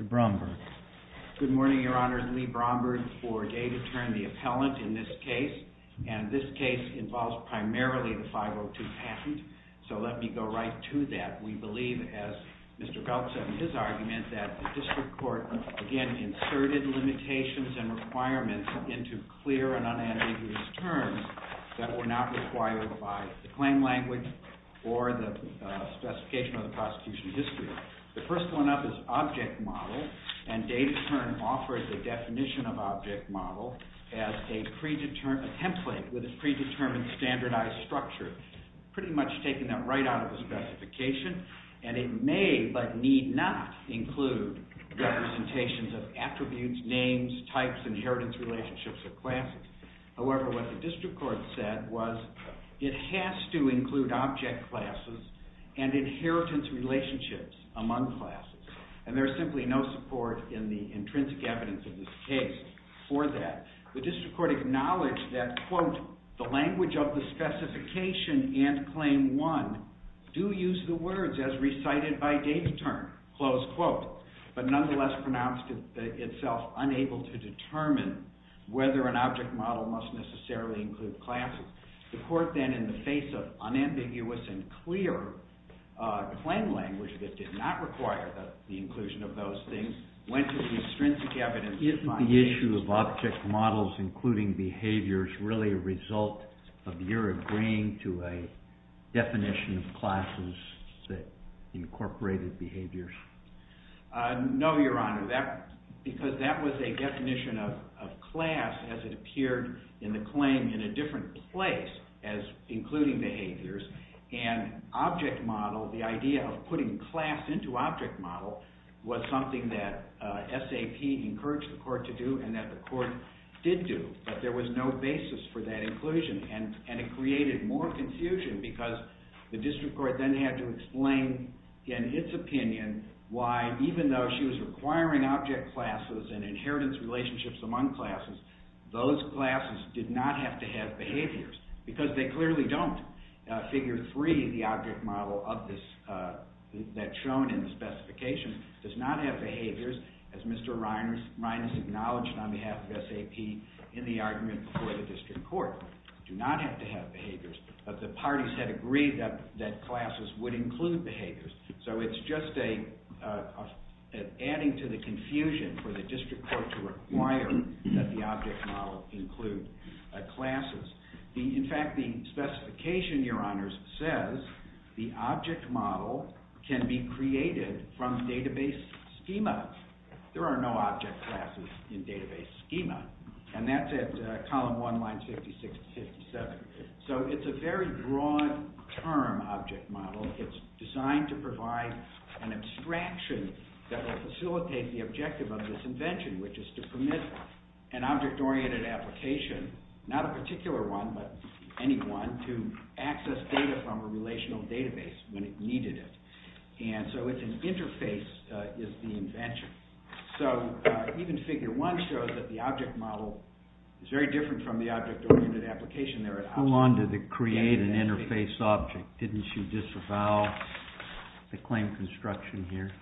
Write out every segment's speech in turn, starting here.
LEE BROMBERG. Good morning, Your Honor. I'm Lee Bromberg for DATATERN, the appellant in this case, and this case involves primarily the 502 patent, so let me go right to that. We believe, as Mr. Belk said in his argument, that the district court, again, inserted limitations and requirements into clear and unambiguous terms that were not required by the claim language or the specification of the prosecution history. The first one up is object model, and DATATERN offered the definition of object model as a template with a predetermined standardized structure, pretty much taking that right out of the specification, and it may but need not include representations of attributes, names, types, and inheritance relationships of classes. However, what the district court said was it has to include object classes and inheritance relationships among classes, and there is simply no support in the intrinsic evidence of this case for that. The district court acknowledged that, quote, the language of the specification and claim one do use the words as recited by DATATERN, close quote, but nonetheless pronounced itself unable to determine whether an object model must necessarily include classes. The court then, in the face of unambiguous and clear claim language that did not require the inclusion of those things, went to the intrinsic evidence finding. Isn't the issue of object models, including behaviors, really a result of your agreeing to a definition of classes that incorporated behaviors? No, Your Honor, because that was a definition of class as it appeared in the claim in a different place as including behaviors, and object model, the idea of putting class into object model, was something that SAP encouraged the court to do and that the court did do, but there was no basis for that inclusion, and it created more confusion because the district court then had to explain, in its opinion, why even though she was requiring object classes and inheritance relationships among classes, those classes did not have to have behaviors because they clearly don't. Figure three, the object model that's shown in the specification, does not have behaviors, as Mr. Reines acknowledged on behalf of SAP in the argument before the district court, do not have to have behaviors, but the parties had agreed that classes would include behaviors, so it's just adding to the confusion for the district court to require that the object model include classes. In fact, the specification, Your Honors, says the object model can be created from database schema. There are no object classes in database schema, and that's at column one, lines 56 to 57. So it's a very broad-term object model. It's designed to provide an abstraction that will facilitate the objective of this invention, which is to permit an object-oriented application, not a particular one, but any one, to access data from a relational database when it needed it. And so an interface is the invention. So even figure one shows that the object model is very different from the object-oriented application there. Hold on to the create an interface object. Didn't she disavow the claim construction here?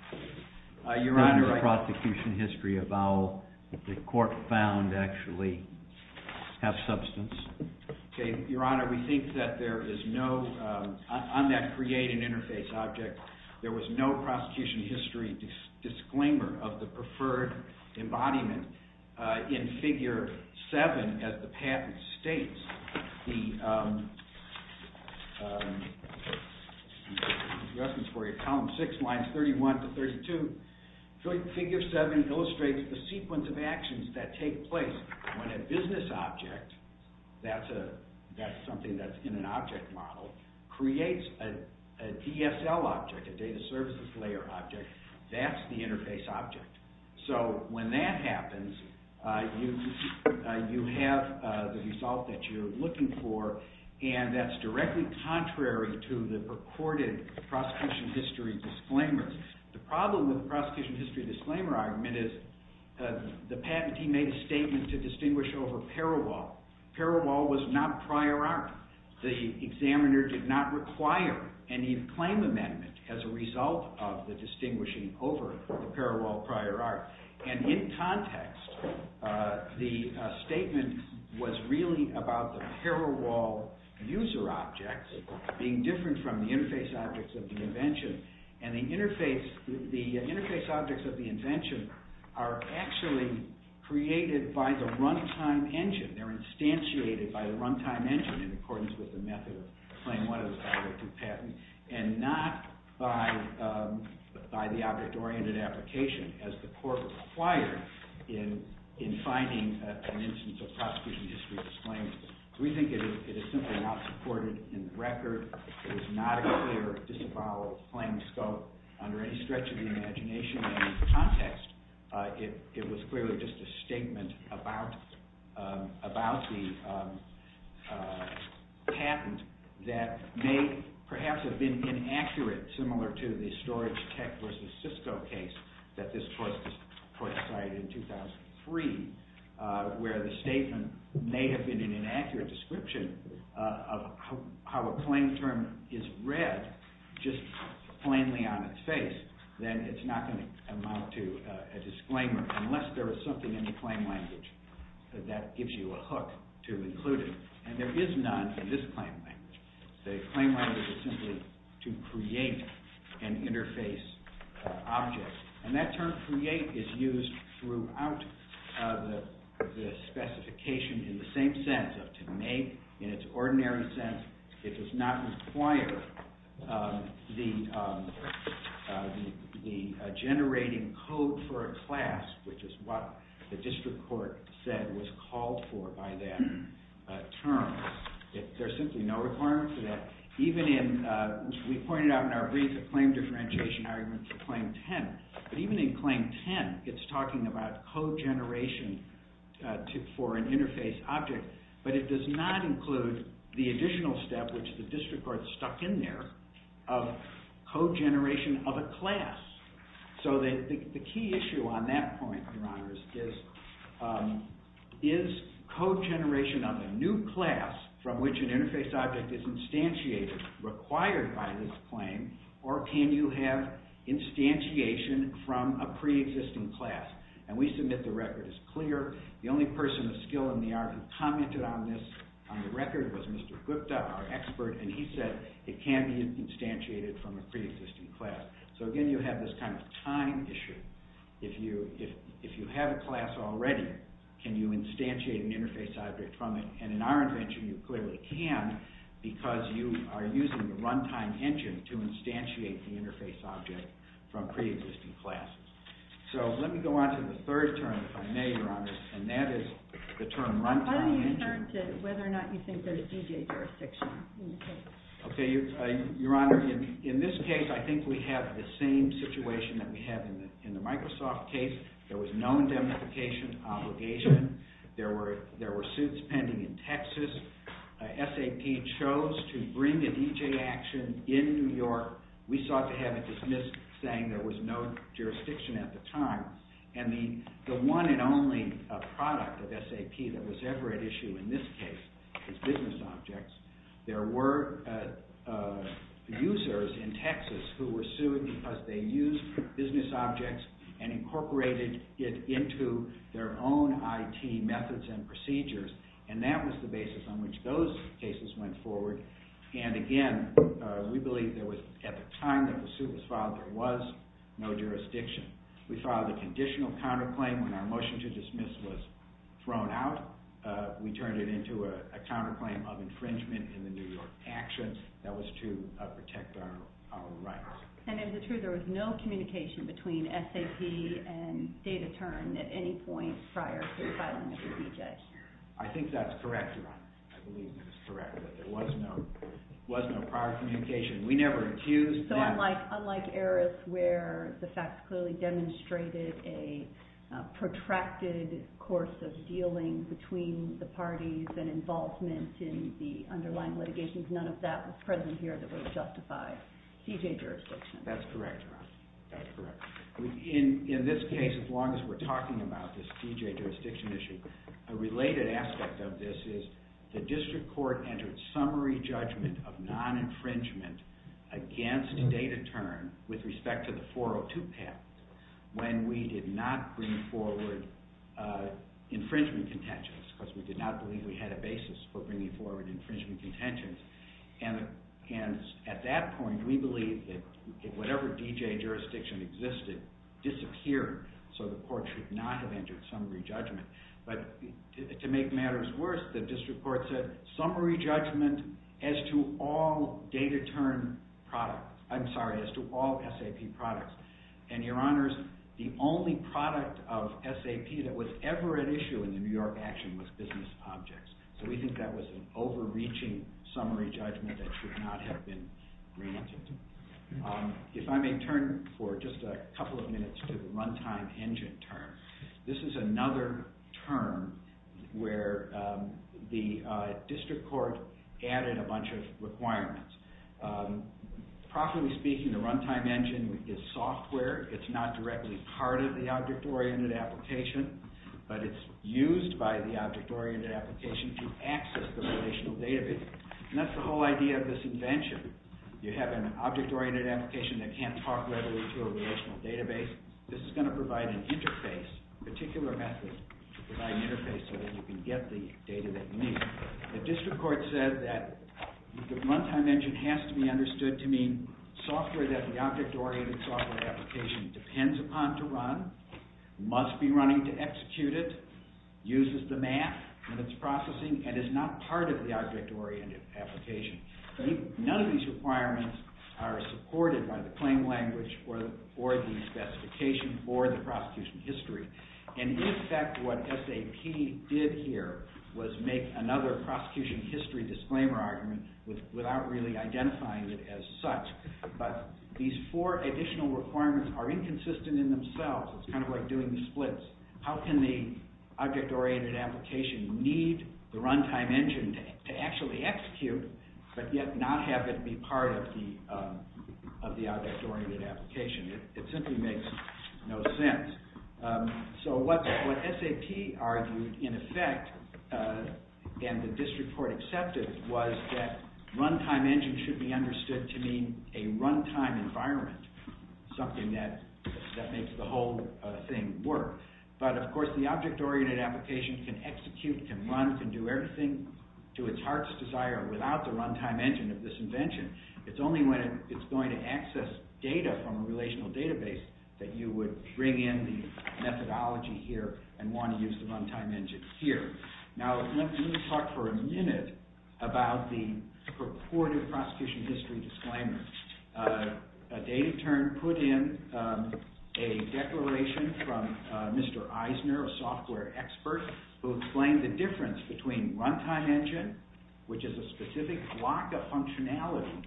Your Honor, I— The prosecution history avow that the court found actually have substance. Okay, Your Honor, we think that there is no—on that create an interface object, there was no prosecution history disclaimer of the preferred embodiment in figure seven as the patent states. Here's the address for you. Column six, lines 31 to 32. Figure seven illustrates the sequence of actions that take place when a business object—that's something that's in an object model—creates a DSL object, a data services layer object. That's the interface object. So when that happens, you have the result that you're looking for, and that's directly contrary to the recorded prosecution history disclaimer. The problem with the prosecution history disclaimer argument is the patentee made a statement to distinguish over parallel. Parallel was not prior art. The examiner did not require any claim amendment as a result of the distinguishing over the parallel prior art. And in context, the statement was really about the parallel user objects being different from the interface objects of the invention. And the interface objects of the invention are actually created by the runtime engine. They're instantiated by the runtime engine in accordance with the method of claim one of the speculative patent, and not by the object-oriented application as the court required in finding an instance of prosecution history disclaimer. So we think it is simply not supported in the record. It is not a clear disavowal of claim scope under any stretch of the imagination. And in context, it was clearly just a statement about the patent that may perhaps have been inaccurate, similar to the storage tech versus Cisco case that this court cited in 2003, where the statement may have been an inaccurate description of how a claim term is read just plainly on its face. Then it's not going to amount to a disclaimer unless there is something in the claim language that gives you a hook to include it. And there is none in this claim language. The claim language is simply to create an interface object. And that term create is used throughout the specification in the same sense of to make. In its ordinary sense, it does not require the generating code for a class, which is what the district court said was called for by that term. There's simply no requirement for that. We pointed out in our brief a claim differentiation argument for claim 10. But even in claim 10, it's talking about code generation for an interface object. But it does not include the additional step, which the district court stuck in there, of code generation of a class. So the key issue on that point, Your Honors, is code generation of a new class from which an interface object is instantiated required by this claim, or can you have instantiation from a pre-existing class? And we submit the record is clear. The only person of skill in the art who commented on this on the record was Mr. Gupta, our expert, and he said it can be instantiated from a pre-existing class. So again, you have this kind of time issue. If you have a class already, can you instantiate an interface object from it? And in our invention, you clearly can because you are using the runtime engine to instantiate the interface object from pre-existing classes. So let me go on to the third term, if I may, Your Honors, and that is the term runtime engine. And the one and only product of SAP that was ever at issue in this case was business objects. There were users in Texas who were sued because they used business objects and incorporated it into their own IT methods and procedures, and that was the basis on which those cases went forward. And again, we believe there was, at the time that the suit was filed, there was no jurisdiction. We filed a conditional counterclaim when our motion to dismiss was thrown out. We turned it into a counterclaim of infringement in the New York actions that was to protect our rights. And is it true there was no communication between SAP and Data Turn at any point prior to filing it with CJ? That's correct, Your Honors. That's correct. In this case, as long as we're talking about this CJ jurisdiction issue, a related aspect of this is the district court entered summary judgment of non-infringement against Data Turn with respect to the 402 path when we did not bring forward infringement contentions because we did not believe we had a basis for bringing forward infringement contentions. And at that point, we believed that whatever DJ jurisdiction existed disappeared, so the court should not have entered summary judgment. But to make matters worse, the district court said summary judgment as to all SAP products. And Your Honors, the only product of SAP that was ever at issue in the New York action was business objects. So we think that was an overreaching summary judgment that should not have been granted. If I may turn for just a couple of minutes to the Runtime Engine term. This is another term where the district court added a bunch of requirements. Properly speaking, the Runtime Engine is software. It's not directly part of the object-oriented application, but it's used by the object-oriented application to access the relational database. And that's the whole idea of this invention. You have an object-oriented application that can't talk readily to a relational database. This is going to provide an interface, a particular method to provide an interface so that you can get the data that you need. The district court said that the Runtime Engine has to be understood to mean software that the object-oriented software application depends upon to run, must be running to execute it, uses the math in its processing, and is not part of the object-oriented application. None of these requirements are supported by the claim language or the specification for the prosecution history. And in fact, what SAP did here was make another prosecution history disclaimer argument without really identifying it as such. But these four additional requirements are inconsistent in themselves. It's kind of like doing the splits. How can the object-oriented application need the Runtime Engine to actually execute, but yet not have it be part of the object-oriented application? It simply makes no sense. So what SAP argued, in effect, and the district court accepted, was that Runtime Engine should be understood to mean a runtime environment, something that makes the whole thing work. But of course, the object-oriented application can execute, can run, can do everything to its heart's desire without the Runtime Engine of this invention. It's only when it's going to access data from a relational database that you would bring in the methodology here and want to use the Runtime Engine here. Now, let me talk for a minute about the purported prosecution history disclaimer. Dave Turn put in a declaration from Mr. Eisner, a software expert, who explained the difference between Runtime Engine, which is a specific block of functionality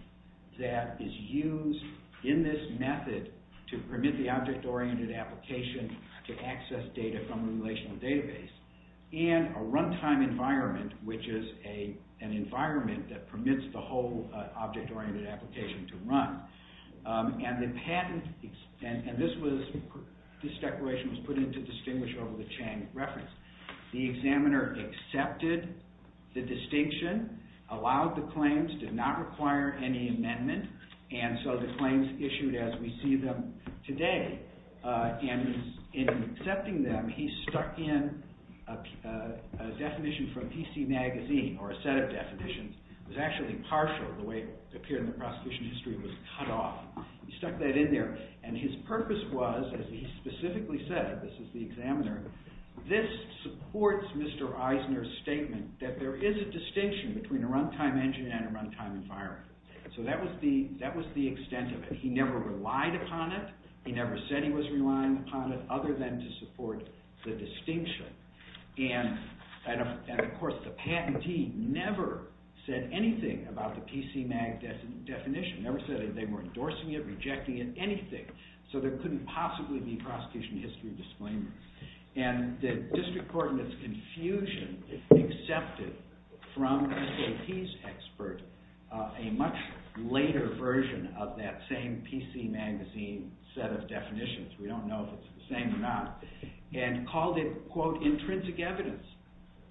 that is used in this method to permit the object-oriented application to access data from a relational database, and a runtime environment, which is an environment that permits the whole object-oriented application to run. And this declaration was put in to distinguish over the Chang reference. The examiner accepted the distinction, allowed the claims, did not require any amendment, and so the claims issued as we see them today. And in accepting them, he stuck in a definition from PC Magazine, or a set of definitions. It was actually partial. The way it appeared in the prosecution history was cut off. He stuck that in there, and his purpose was, as he specifically said, this is the examiner, this supports Mr. Eisner's statement that there is a distinction between a Runtime Engine and a Runtime Environment. So that was the extent of it. He never relied upon it, he never said he was relying upon it, other than to support the distinction. And of course, the patentee never said anything about the PC Magazine definition, never said they were endorsing it, rejecting it, anything. So there couldn't possibly be prosecution history disclaimers. And the district court, in its confusion, accepted from the SAP's expert a much later version of that same PC Magazine set of definitions, we don't know if it's the same or not, and called it, quote, intrinsic evidence.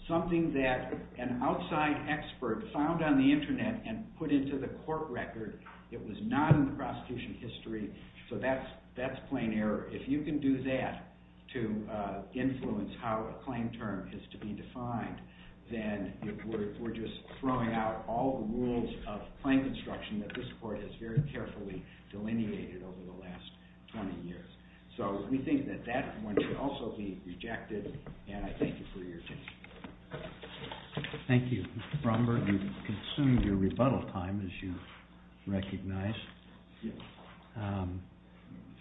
Something that an outside expert found on the internet and put into the court record, it was not in the prosecution history, so that's plain error. If you can do that to influence how a claim term is to be defined, then we're just throwing out all the rules of claim construction that this court has very carefully delineated over the last 20 years. So we think that that one should also be rejected, and I thank you for your attention. Thank you. Mr. Bromberg, you've consumed your rebuttal time, as you recognize.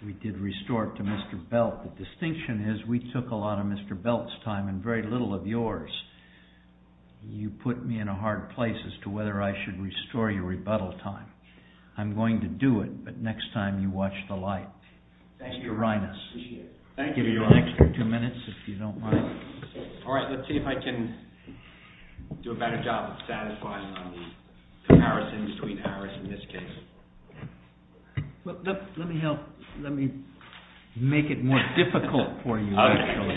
We did restore it to Mr. Belt. The distinction is we took a lot of Mr. Belt's time and very little of yours. You put me in a hard place as to whether I should restore your rebuttal time. I'm going to do it, but next time you watch the light. Thank you. All right, let's see if I can do a better job of satisfying on the comparisons between ARIS and this case. Let me make it more difficult for you, actually.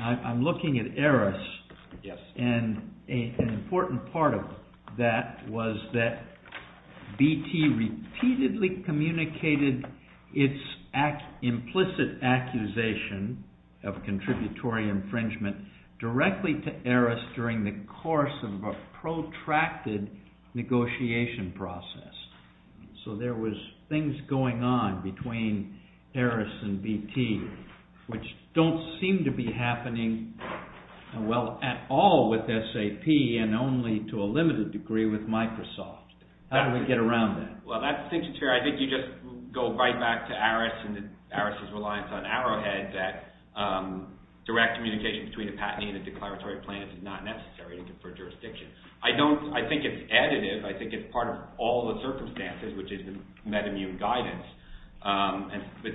I'm looking at ARIS, and an important part of that was that BT repeatedly communicated its implicit accusation of contributory infringement directly to ARIS during the course of a protracted negotiation process. So there was things going on between ARIS and BT, which don't seem to be happening well at all with SAP and only to a limited degree with Microsoft. How do we get around that? Well, that distinction's fair. I think you just go right back to ARIS and ARIS's reliance on Arrowhead that direct communication between a patentee and a declaratory plaintiff is not necessary for jurisdiction. I think it's additive. I think it's part of all the circumstances, which is the MedImmune guidance. But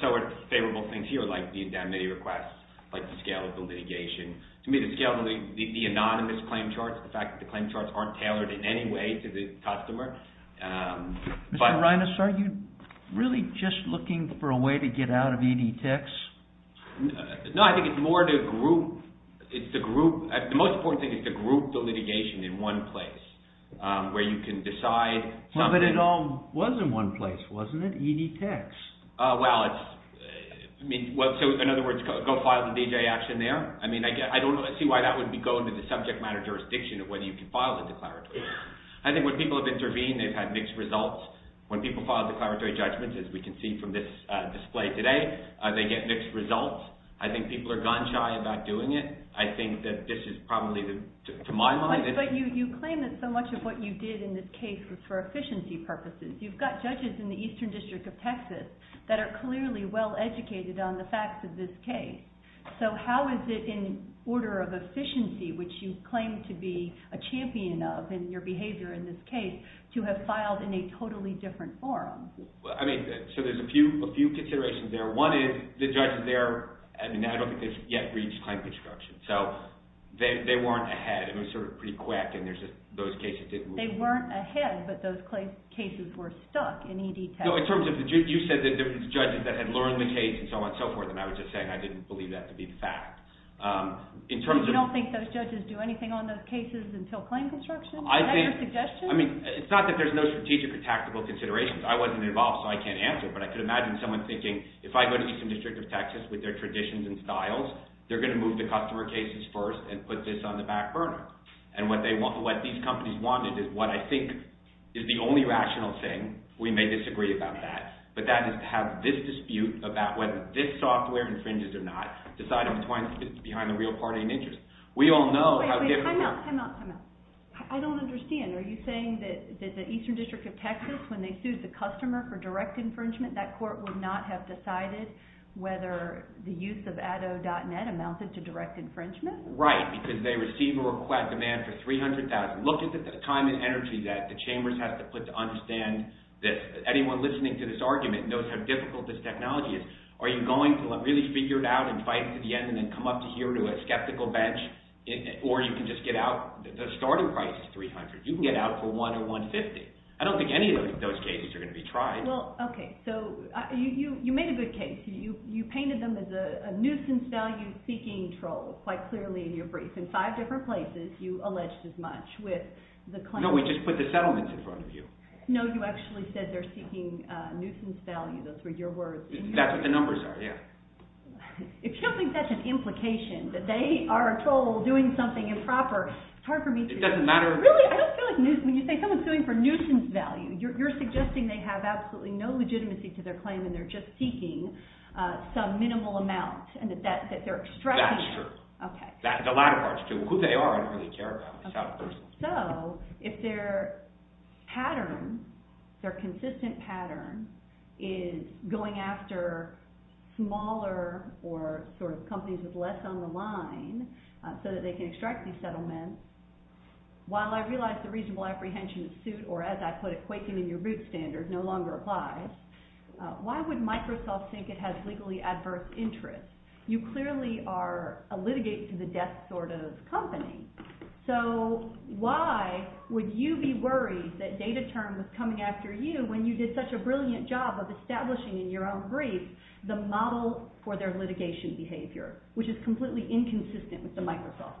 so are favorable things here, like the indemnity requests, like the scale of the litigation. To me, the scale of the anonymous claim charts, the fact that the claim charts aren't tailored in any way to the customer. Mr. Reines, are you really just looking for a way to get out of ED Techs? No, I think it's more to group. The most important thing is to group the litigation in one place, where you can decide. But it all was in one place, wasn't it? ED Techs. Well, in other words, go file the D.J. action there. I don't see why that would be going to the subject matter jurisdiction of whether you can file a declaratory. I think when people have intervened, they've had mixed results. When people file declaratory judgments, as we can see from this display today, they get mixed results. I think people are gun-shy about doing it. I think that this is probably, to my mind— But you claim that so much of what you did in this case was for efficiency purposes. You've got judges in the Eastern District of Texas that are clearly well-educated on the facts of this case. So how is it in order of efficiency, which you claim to be a champion of in your behavior in this case, to have filed in a totally different form? I mean, so there's a few considerations there. One is, the judges there—I mean, I don't think they've yet reached claim construction. So they weren't ahead. It was sort of pretty quick, and those cases didn't— They weren't ahead, but those cases were stuck in ED Tech. No, in terms of—you said that there were judges that had learned the case and so on and so forth, and I was just saying I didn't believe that to be the fact. In terms of— You don't think those judges do anything on those cases until claim construction? Is that your suggestion? I mean, it's not that there's no strategic or tactical considerations. I wasn't involved, so I can't answer, but I could imagine someone thinking, if I go to the Eastern District of Texas with their traditions and styles, they're going to move the customer cases first and put this on the back burner. And what these companies wanted is what I think is the only rational thing—we may disagree about that—but that is to have this dispute about whether this software infringes or not, deciding between the real party and interest. Wait, wait. Time out, time out, time out. I don't understand. Are you saying that the Eastern District of Texas, when they sued the customer for direct infringement, that court would not have decided whether the use of ADDO.net amounted to direct infringement? Right, because they receive a demand for $300,000. Look at the time and energy that the Chambers has to put to understand this. Anyone listening to this argument knows how difficult this technology is. Are you going to really figure it out and fight to the end and then come up to here to a skeptical bench, or you can just get out—the starting price is $300,000. You can get out for $100,000 or $150,000. I don't think any of those cases are going to be tried. Well, okay. So you made a good case. You painted them as a nuisance-value-seeking troll quite clearly in your brief. In five different places, you alleged as much with the claim— No, we just put the settlements in front of you. No, you actually said they're seeking nuisance value. Those were your words. That's what the numbers are, yeah. If you don't think that's an implication, that they are a troll doing something improper, it's hard for me to— It doesn't matter. Really? I don't feel like nuisance—when you say someone's suing for nuisance value, you're suggesting they have absolutely no legitimacy to their claim and they're just seeking some minimal amount and that they're extracting— That is true. Okay. The latter part is true. Who they are, I don't really care about. It's out of personal. So if their pattern, their consistent pattern, is going after smaller or sort of companies with less on the line so that they can extract these settlements, while I realize the reasonable apprehension suit, or as I put it, quaking in your boots standard, no longer applies, why would Microsoft think it has legally adverse interests? You clearly are a litigate to the death sort of company, so why would you be worried that DataTerm was coming after you when you did such a brilliant job of establishing in your own brief the model for their litigation behavior, which is completely inconsistent with the Microsoft model?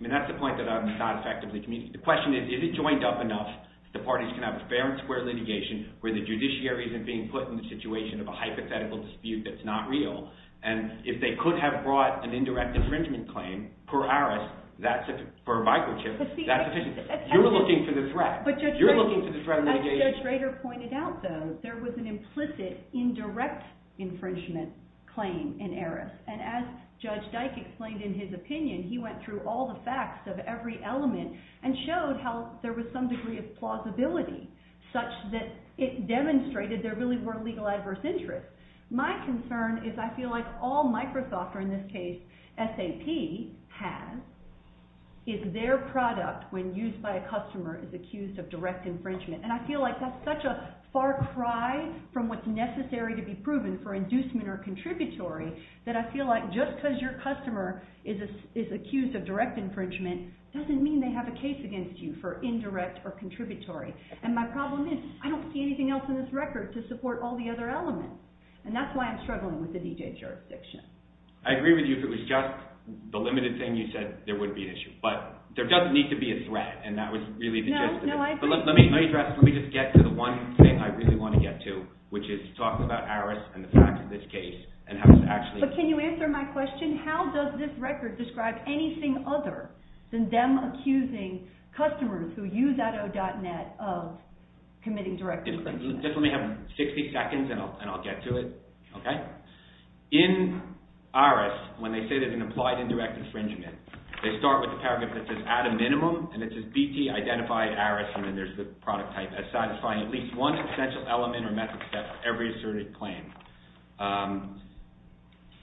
I mean, that's the point that I'm not effectively communicating. The question is, is it joined up enough that the parties can have a fair and square litigation where the judiciary isn't being put in the situation of a hypothetical dispute that's not real, and if they could have brought an indirect infringement claim per ARIS for a microchip, that's sufficient. You're looking for the threat. You're looking for the threat of litigation. As Judge Rader pointed out, though, there was an implicit indirect infringement claim in ARIS, and as Judge Dyke explained in his opinion, he went through all the facts of every element and showed how there was some degree of plausibility, such that it demonstrated there really were legal adverse interests. My concern is I feel like all Microsoft, or in this case SAP, has is their product when used by a customer is accused of direct infringement, and I feel like that's such a far cry from what's necessary to be proven for inducement or contributory that I feel like just because your customer is accused of direct infringement doesn't mean they have a case against you for indirect or contributory, and my problem is I don't see anything else in this record to support all the other elements. And that's why I'm struggling with the DJ jurisdiction. I agree with you. If it was just the limited thing you said, there wouldn't be an issue, but there doesn't need to be a threat, and that was really the gist of it. No, I agree. Let me just get to the one thing I really want to get to, which is talk about ARIS and the fact of this case and how it's actually… But can you answer my question? How does this record describe anything other than them accusing customers who use auto.net of committing direct infringement? Just let me have 60 seconds and I'll get to it, okay? In ARIS, when they say there's an implied indirect infringement, they start with the paragraph that says, at a minimum, and it says, BT, identify ARIS, and then there's the product type, as satisfying at least one substantial element or method except every asserted claim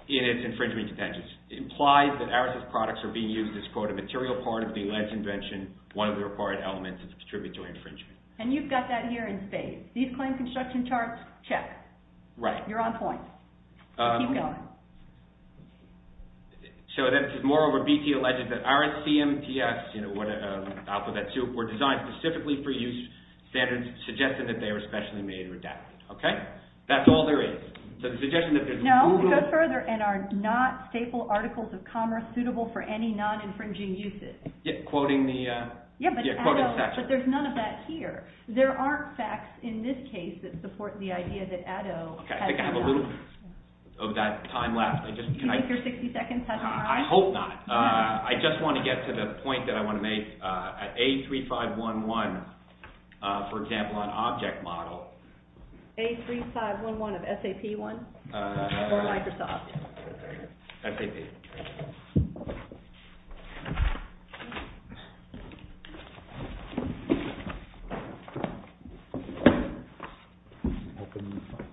in its infringement contentions. It implies that ARIS's products are being used as, quote, a material part of the alleged invention, one of the required elements to contribute to infringement. And you've got that here in spades. These claim construction charts, check. Right. You're on point. Keep going. So this is more where BT alleges that ARIS CMTS, you know, out with that too, were designed specifically for use, standards suggested that they were specially made or adapted, okay? That's all there is. So the suggestion that there's… No, go further, and are not staple articles of commerce suitable for any non-infringing uses. Quoting the… Yeah, but ADO, but there's none of that here. There aren't facts in this case that support the idea that ADO… Okay, I think I have a little of that time left. Do you think your 60 seconds has an… I hope not. I just want to get to the point that I want to make. At A3511, for example, on object model… A3511 of SAP1 or Microsoft? SAP. I'm hoping you find it.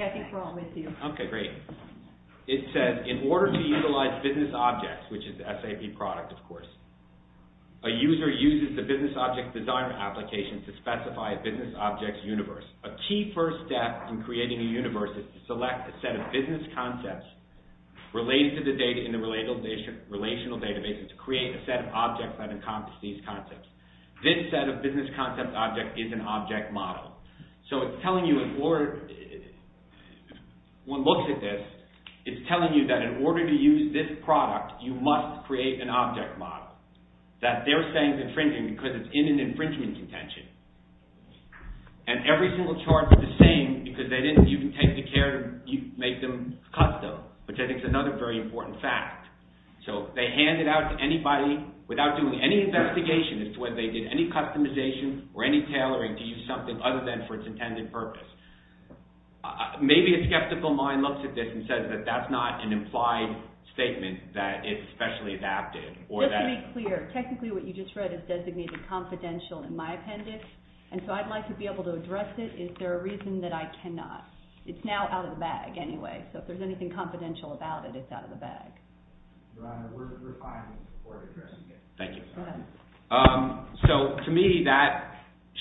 Okay, I think we're all with you. Okay, great. It says, in order to utilize business objects, which is SAP product, of course, a user uses the business object design application to specify a business object universe. A key first step in creating a universe is to select a set of business concepts related to the data in the relational database and to create a set of objects that encompass these concepts. This set of business concept object is an object model. So it's telling you in order… One looks at this, it's telling you that in order to use this product, you must create an object model. That they're saying is infringing because it's in an infringement contention. And every single chart is the same because they didn't even take the care to make them custom, which I think is another very important fact. So they hand it out to anybody without doing any investigation as to whether they did any customization or any tailoring to use something other than for its intended purpose. Maybe a skeptical mind looks at this and says that that's not an implied statement that it's specially adapted or that… Just to be clear, technically what you just read is designated confidential in my appendix. And so I'd like to be able to address it. Is there a reason that I cannot? It's now out of the bag anyway. So if there's anything confidential about it, it's out of the bag. So to me that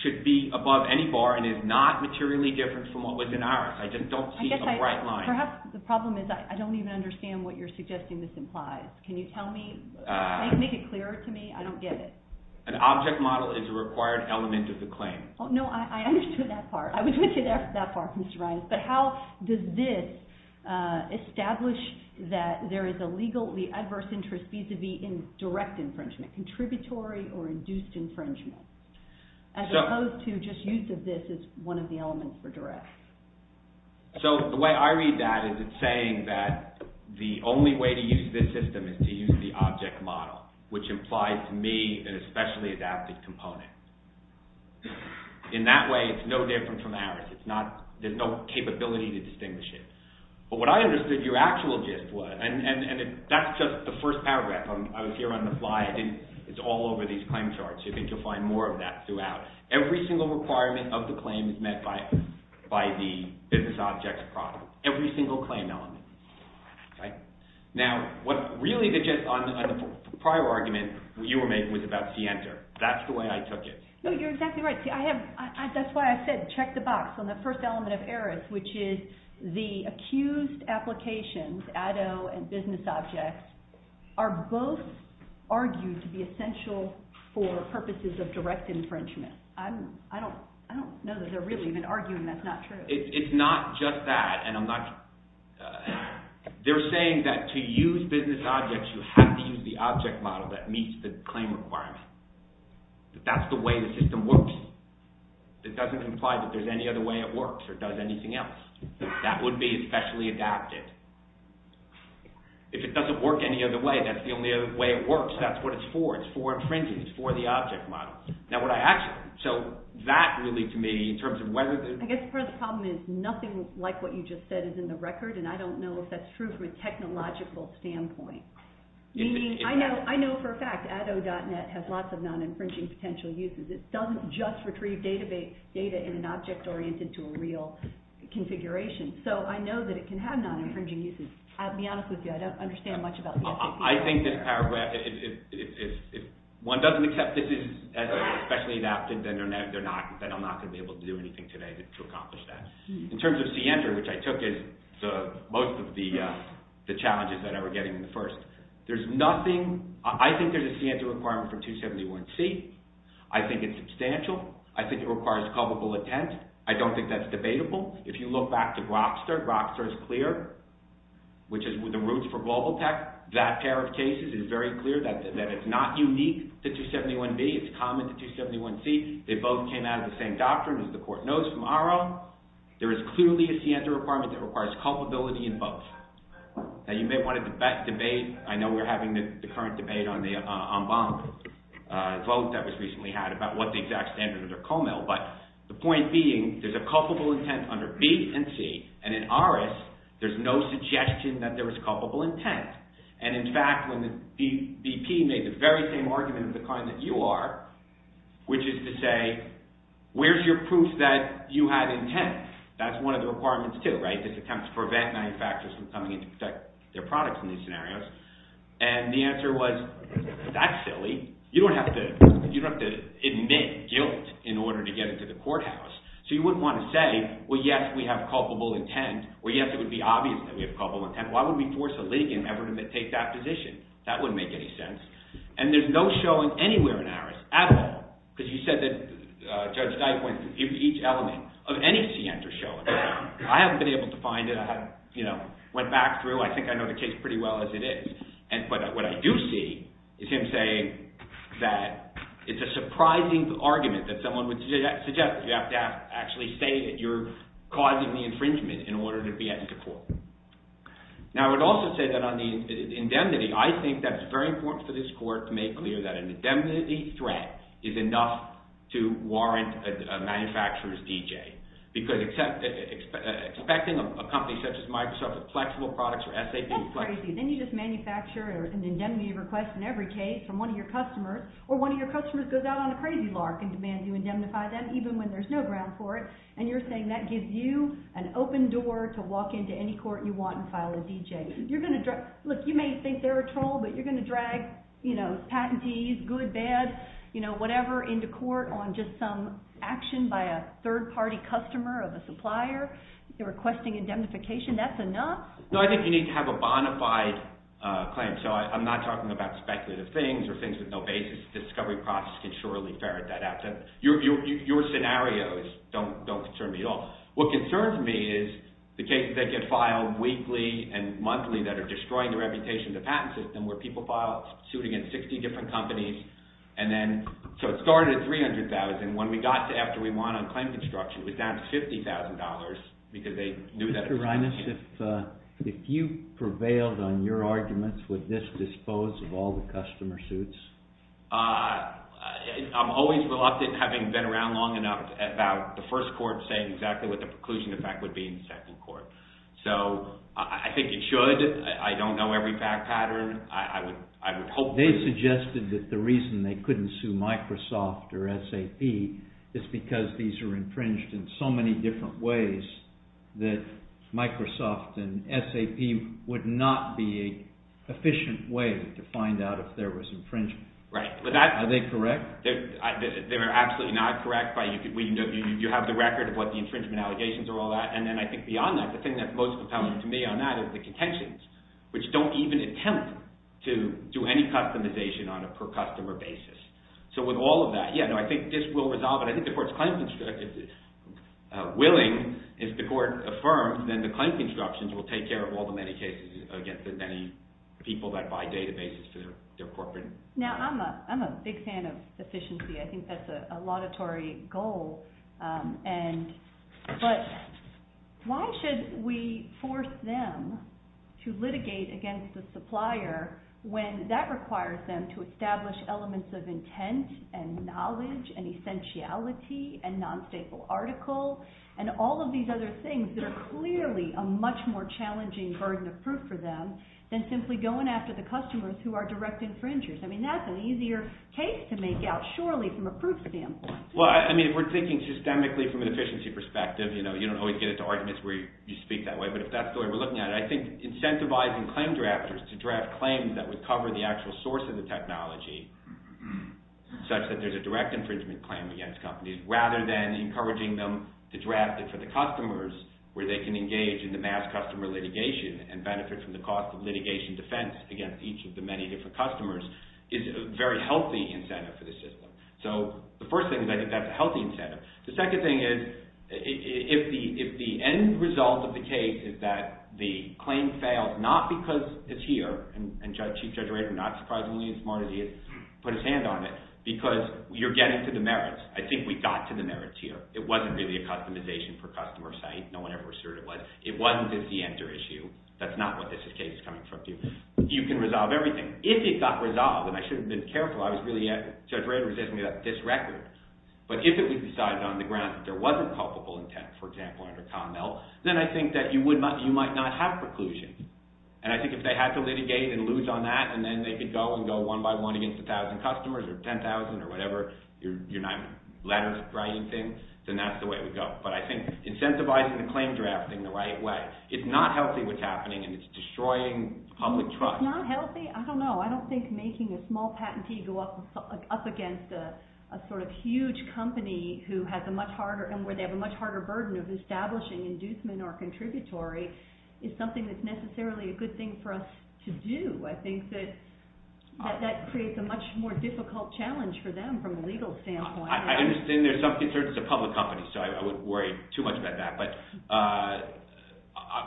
should be above any bar and is not materially different from what was in ours. I just don't see a bright line. Perhaps the problem is I don't even understand what you're suggesting this implies. Can you tell me, make it clearer to me? I don't get it. An object model is a required element of the claim. No, I understood that part. I was with you there for that part, Mr. Reines. But how does this establish that there is a legally adverse interest vis-à-vis in direct infringement, contributory or induced infringement? As opposed to just use of this as one of the elements for direct. So the way I read that is it's saying that the only way to use this system is to use the object model, which implies to me an especially adapted component. In that way, it's no different from ours. There's no capability to distinguish it. But what I understood your actual gist was, and that's just the first paragraph. I was here on the fly. It's all over these claim charts. I think you'll find more of that throughout. Every single requirement of the claim is met by the business object's product, every single claim element. Now, really the gist on the prior argument you were making was about Center. That's the way I took it. No, you're exactly right. That's why I said check the box on the first element of Eris, which is the accused applications, Addo and business objects, are both argued to be essential for purposes of direct infringement. I don't know that they're really even arguing that's not true. It's not just that, and I'm not – they're saying that to use business objects, you have to use the object model that meets the claim requirement. That's the way the system works. It doesn't imply that there's any other way it works or does anything else. That would be especially adapted. If it doesn't work any other way, that's the only other way it works. That's what it's for. It's for infringement. It's for the object model. Now, what I actually – so that really, to me, in terms of whether – I guess part of the problem is nothing like what you just said is in the record, and I don't know if that's true from a technological standpoint. I know for a fact Addo.net has lots of non-infringing potential uses. It doesn't just retrieve data in an object oriented to a real configuration. So I know that it can have non-infringing uses. I'll be honest with you. I don't understand much about the FCC. I think this paragraph – if one doesn't accept this is specially adapted, then they're not – then I'm not going to be able to do anything today to accomplish that. In terms of CENTER, which I took as most of the challenges that I was getting in the first, there's nothing – I think there's a CENTER requirement for 271C. I think it's substantial. I think it requires culpable intent. I don't think that's debatable. If you look back to Grokster, Grokster is clear, which is the roots for Global Tech. That pair of cases is very clear that it's not unique to 271B. It's common to 271C. They both came out of the same doctrine, as the court knows from ARO. There is clearly a CENTER requirement that requires culpability in both. Now you may want to debate – I know we're having the current debate on the en banc vote that was recently had about what the exact standards are at Comel, but the point being there's a culpable intent under B and C, and in ARIS, there's no suggestion that there is culpable intent. And in fact, when BP made the very same argument as the kind that you are, which is to say, where's your proof that you had intent? That's one of the requirements too, right? This attempts to prevent manufacturers from coming in to protect their products in these scenarios. And the answer was, that's silly. You don't have to admit guilt in order to get into the courthouse. So you wouldn't want to say, well, yes, we have culpable intent, or yes, it would be obvious that we have culpable intent. Why would we force a legal effort to take that position? That wouldn't make any sense. And there's no showing anywhere in ARIS at all. Because you said that Judge Dike went through each element of any CENTER showing. I haven't been able to find it. I went back through. I think I know the case pretty well as it is. But what I do see is him saying that it's a surprising argument that someone would suggest. You have to actually say that you're causing the infringement in order to be asked to court. Now, I would also say that on the indemnity, I think that it's very important for this court to make clear that an indemnity threat is enough to warrant a manufacturer's D.J. Because expecting a company such as Microsoft with flexible products or SAP. That's crazy. Then you just manufacture an indemnity request in every case from one of your customers, or one of your customers goes out on a crazy lark and demands you indemnify them, even when there's no ground for it. And you're saying that gives you an open door to walk into any court you want and file a D.J. Look, you may think they're a troll, but you're going to drag patentees, good, bad, whatever, into court on just some action by a third-party customer of a supplier. They're requesting indemnification. That's enough? No, I think you need to have a bonafide claim. So I'm not talking about speculative things or things with no basis. The discovery process can surely ferret that out. Your scenarios don't concern me at all. What concerns me is the cases that get filed weekly and monthly that are destroying the reputation of the patent system, where people file suit against 60 different companies. So it started at $300,000. When we got to after we won on claim construction, it was down to $50,000 Mr. Rhinus, if you prevailed on your arguments, would this dispose of all the customer suits? I'm always reluctant, having been around long enough, about the first court saying exactly what the preclusion effect would be in the second court. So I think it should. I don't know every patent pattern. They suggested that the reason they couldn't sue Microsoft or SAP is because these are infringed in so many different ways that Microsoft and SAP would not be an efficient way to find out if there was infringement. Are they correct? They're absolutely not correct. You have the record of what the infringement allegations are and all that. And I think beyond that, the thing that's most compelling to me on that is the contentions, which don't even attempt to do any customization on a per-customer basis. So with all of that, yeah, I think this will resolve it. I think the court is willing. If the court affirms, then the claim constructions will take care of all the many cases against the many people that buy databases for their corporate. Now, I'm a big fan of efficiency. I think that's a laudatory goal. But why should we force them to litigate against the supplier when that requires them to establish elements of intent and knowledge and essentiality and non-staple article and all of these other things that are clearly a much more challenging burden of proof for them than simply going after the customers who are direct infringers? I mean, that's an easier case to make out, surely, from a proof standpoint. Well, I mean, if we're thinking systemically from an efficiency perspective, you know, you don't always get into arguments where you speak that way. But if that's the way we're looking at it, I think incentivizing claim drafters to draft claims that would cover the actual source of the technology such that there's a direct infringement claim against companies rather than encouraging them to draft it for the customers where they can engage in the mass customer litigation and benefit from the cost of litigation defense against each of the many different customers is a very healthy incentive for the system. So the first thing is I think that's a healthy incentive. The second thing is if the end result of the case is that the claim failed not because it's here, and Chief Judge Rader, not surprisingly as smart as he is, put his hand on it, because you're getting to the merits. I think we got to the merits here. It wasn't really a customization for customer site. No one ever asserted it was. It wasn't just the enter issue. That's not what this case is coming from. You can resolve everything. If it got resolved, and I should have been careful. Judge Rader was asking me about this record. But if it was decided on the grounds that there wasn't culpable intent, for example, under Connell, then I think that you might not have preclusions. And I think if they had to litigate and lose on that, and then they could go and go one by one against 1,000 customers or 10,000 or whatever letters, writing things, then that's the way it would go. But I think incentivizing the claim drafting the right way, it's not healthy what's happening, and it's destroying public trust. It's not healthy? I don't know. I don't think making a small patentee go up against a sort of huge company and where they have a much harder burden of establishing inducement or contributory is something that's necessarily a good thing for us to do. I think that that creates a much more difficult challenge for them from a legal standpoint. I understand there's some concerns it's a public company, so I wouldn't worry too much about that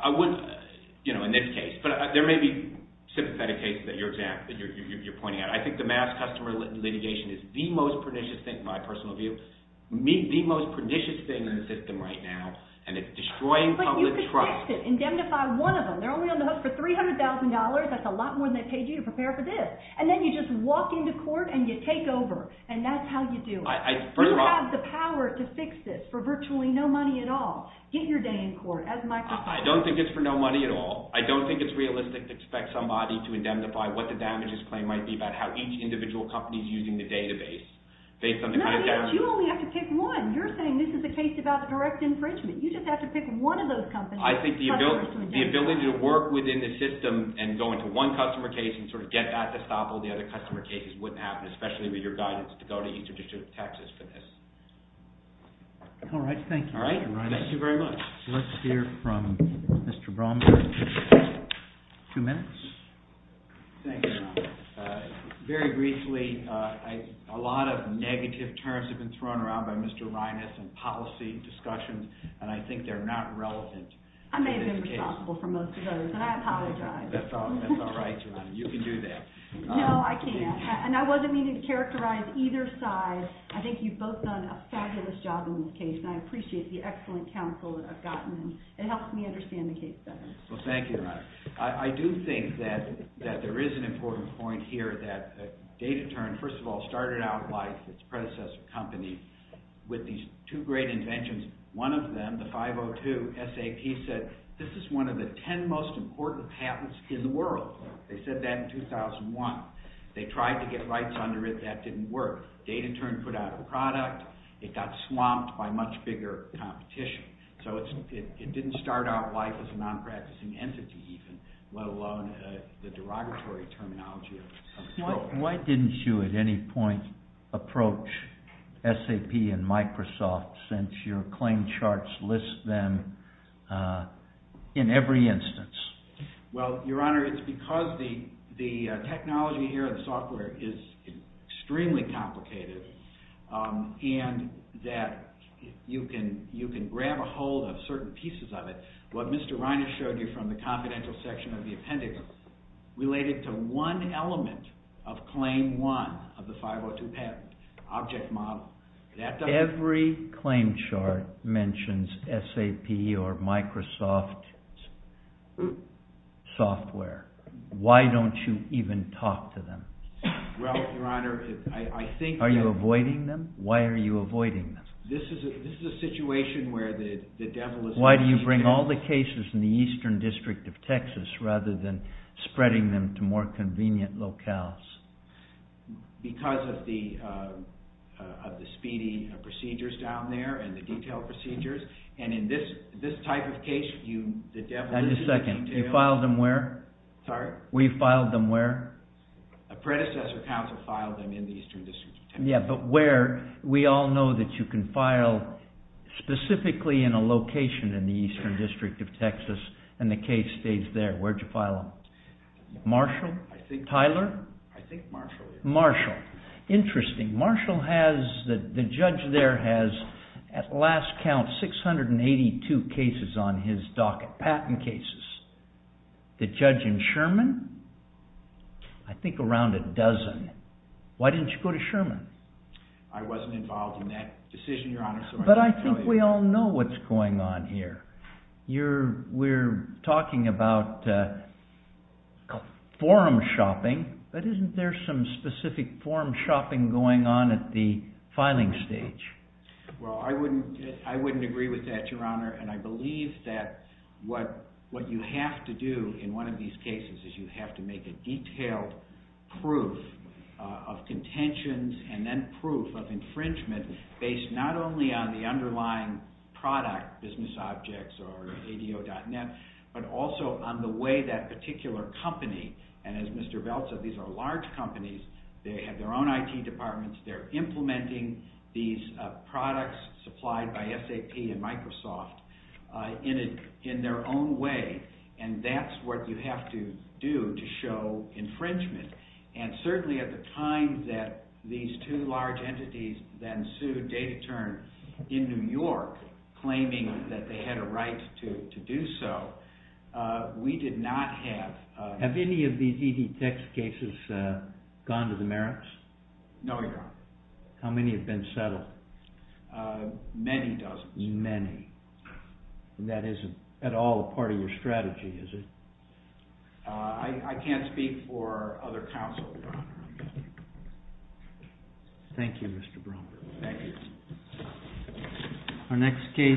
in this case. But there may be sympathetic cases that you're pointing out. I think the mass customer litigation is the most pernicious thing, in my personal view, the most pernicious thing in the system right now, and it's destroying public trust. But you could fix it, indemnify one of them. They're only on the hook for $300,000. That's a lot more than they paid you to prepare for this. And then you just walk into court and you take over, and that's how you do it. You have the power to fix this for virtually no money at all. Get your day in court, as Michael said. I don't think it's for no money at all. I don't think it's realistic to expect somebody to indemnify what the damages claim might be about how each individual company is using the database based on the kind of damage. Not only that, you only have to pick one. You're saying this is a case about direct infringement. You just have to pick one of those companies. I think the ability to work within the system and go into one customer case and sort of get that to stop all the other customer cases wouldn't happen, especially with your guidance to go to Eastern District of Texas for this. All right, thank you. Thank you very much. Let's hear from Mr. Bromberg. Two minutes. Thank you, Your Honor. Very briefly, a lot of negative terms have been thrown around by Mr. Reines in policy discussions, and I think they're not relevant. I may have been responsible for most of those, and I apologize. That's all right, Your Honor. You can do that. No, I can't. And I wasn't meaning to characterize either side. I think you've both done a fabulous job in this case, and I appreciate the excellent counsel that I've gotten, and it helps me understand the case better. Well, thank you, Your Honor. I do think that there is an important point here that Data Turn, first of all, started out like its predecessor company with these two great inventions. One of them, the 502 SAP, said, this is one of the ten most important patents in the world. They said that in 2001. They tried to get rights under it. That didn't work. Data Turn put out a product. It got swamped by much bigger competition. So it didn't start out life as a non-practicing entity even, let alone the derogatory terminology of it. Why didn't you at any point approach SAP and Microsoft since your claim charts list them in every instance? Well, Your Honor, it's because the technology here, the software, is extremely complicated, and that you can grab a hold of certain pieces of it. What Mr. Reiner showed you from the confidential section of the appendix related to one element of claim one of the 502 patent, object model. Every claim chart mentions SAP or Microsoft software. Why don't you even talk to them? Well, Your Honor, I think... Are you avoiding them? Why are you avoiding them? This is a situation where the devil is... Why do you bring all the cases in the eastern district of Texas rather than spreading them to more convenient locales? Because of the speedy procedures down there and the detailed procedures. And in this type of case, the devil is... Just a second. You filed them where? Sorry? We filed them where? A predecessor counsel filed them in the eastern district of Texas. Yeah, but where? We all know that you can file specifically in a location in the eastern district of Texas and the case stays there. Where did you file them? Marshall? Tyler? I think Marshall. Marshall. Interesting. Marshall has... The judge there has, at last count, 682 cases on his docket. Patent cases. The judge in Sherman? I think around a dozen. Why didn't you go to Sherman? I wasn't involved in that decision, Your Honor. But I think we all know what's going on here. We're talking about forum shopping, but isn't there some specific forum shopping going on at the filing stage? Well, I wouldn't agree with that, Your Honor, and I believe that what you have to do in one of these cases is you have to make a detailed proof of contentions and then proof of infringement based not only on the underlying product, business objects or ADO.net, but also on the way that particular company, and as Mr. Belt said, these are large companies. They have their own IT departments. They're implementing these products supplied by SAP and Microsoft in their own way, and that's what you have to do to show infringement. And certainly at the time that these two large entities then sued DataTurn in New York, claiming that they had a right to do so, we did not have... Have any of these ED Tech cases gone to the merits? No, Your Honor. How many have been settled? Many dozens. Many. That isn't at all a part of your strategy, is it? I can't speak for other counsel, Your Honor. Thank you, Mr. Bromberg. Thank you.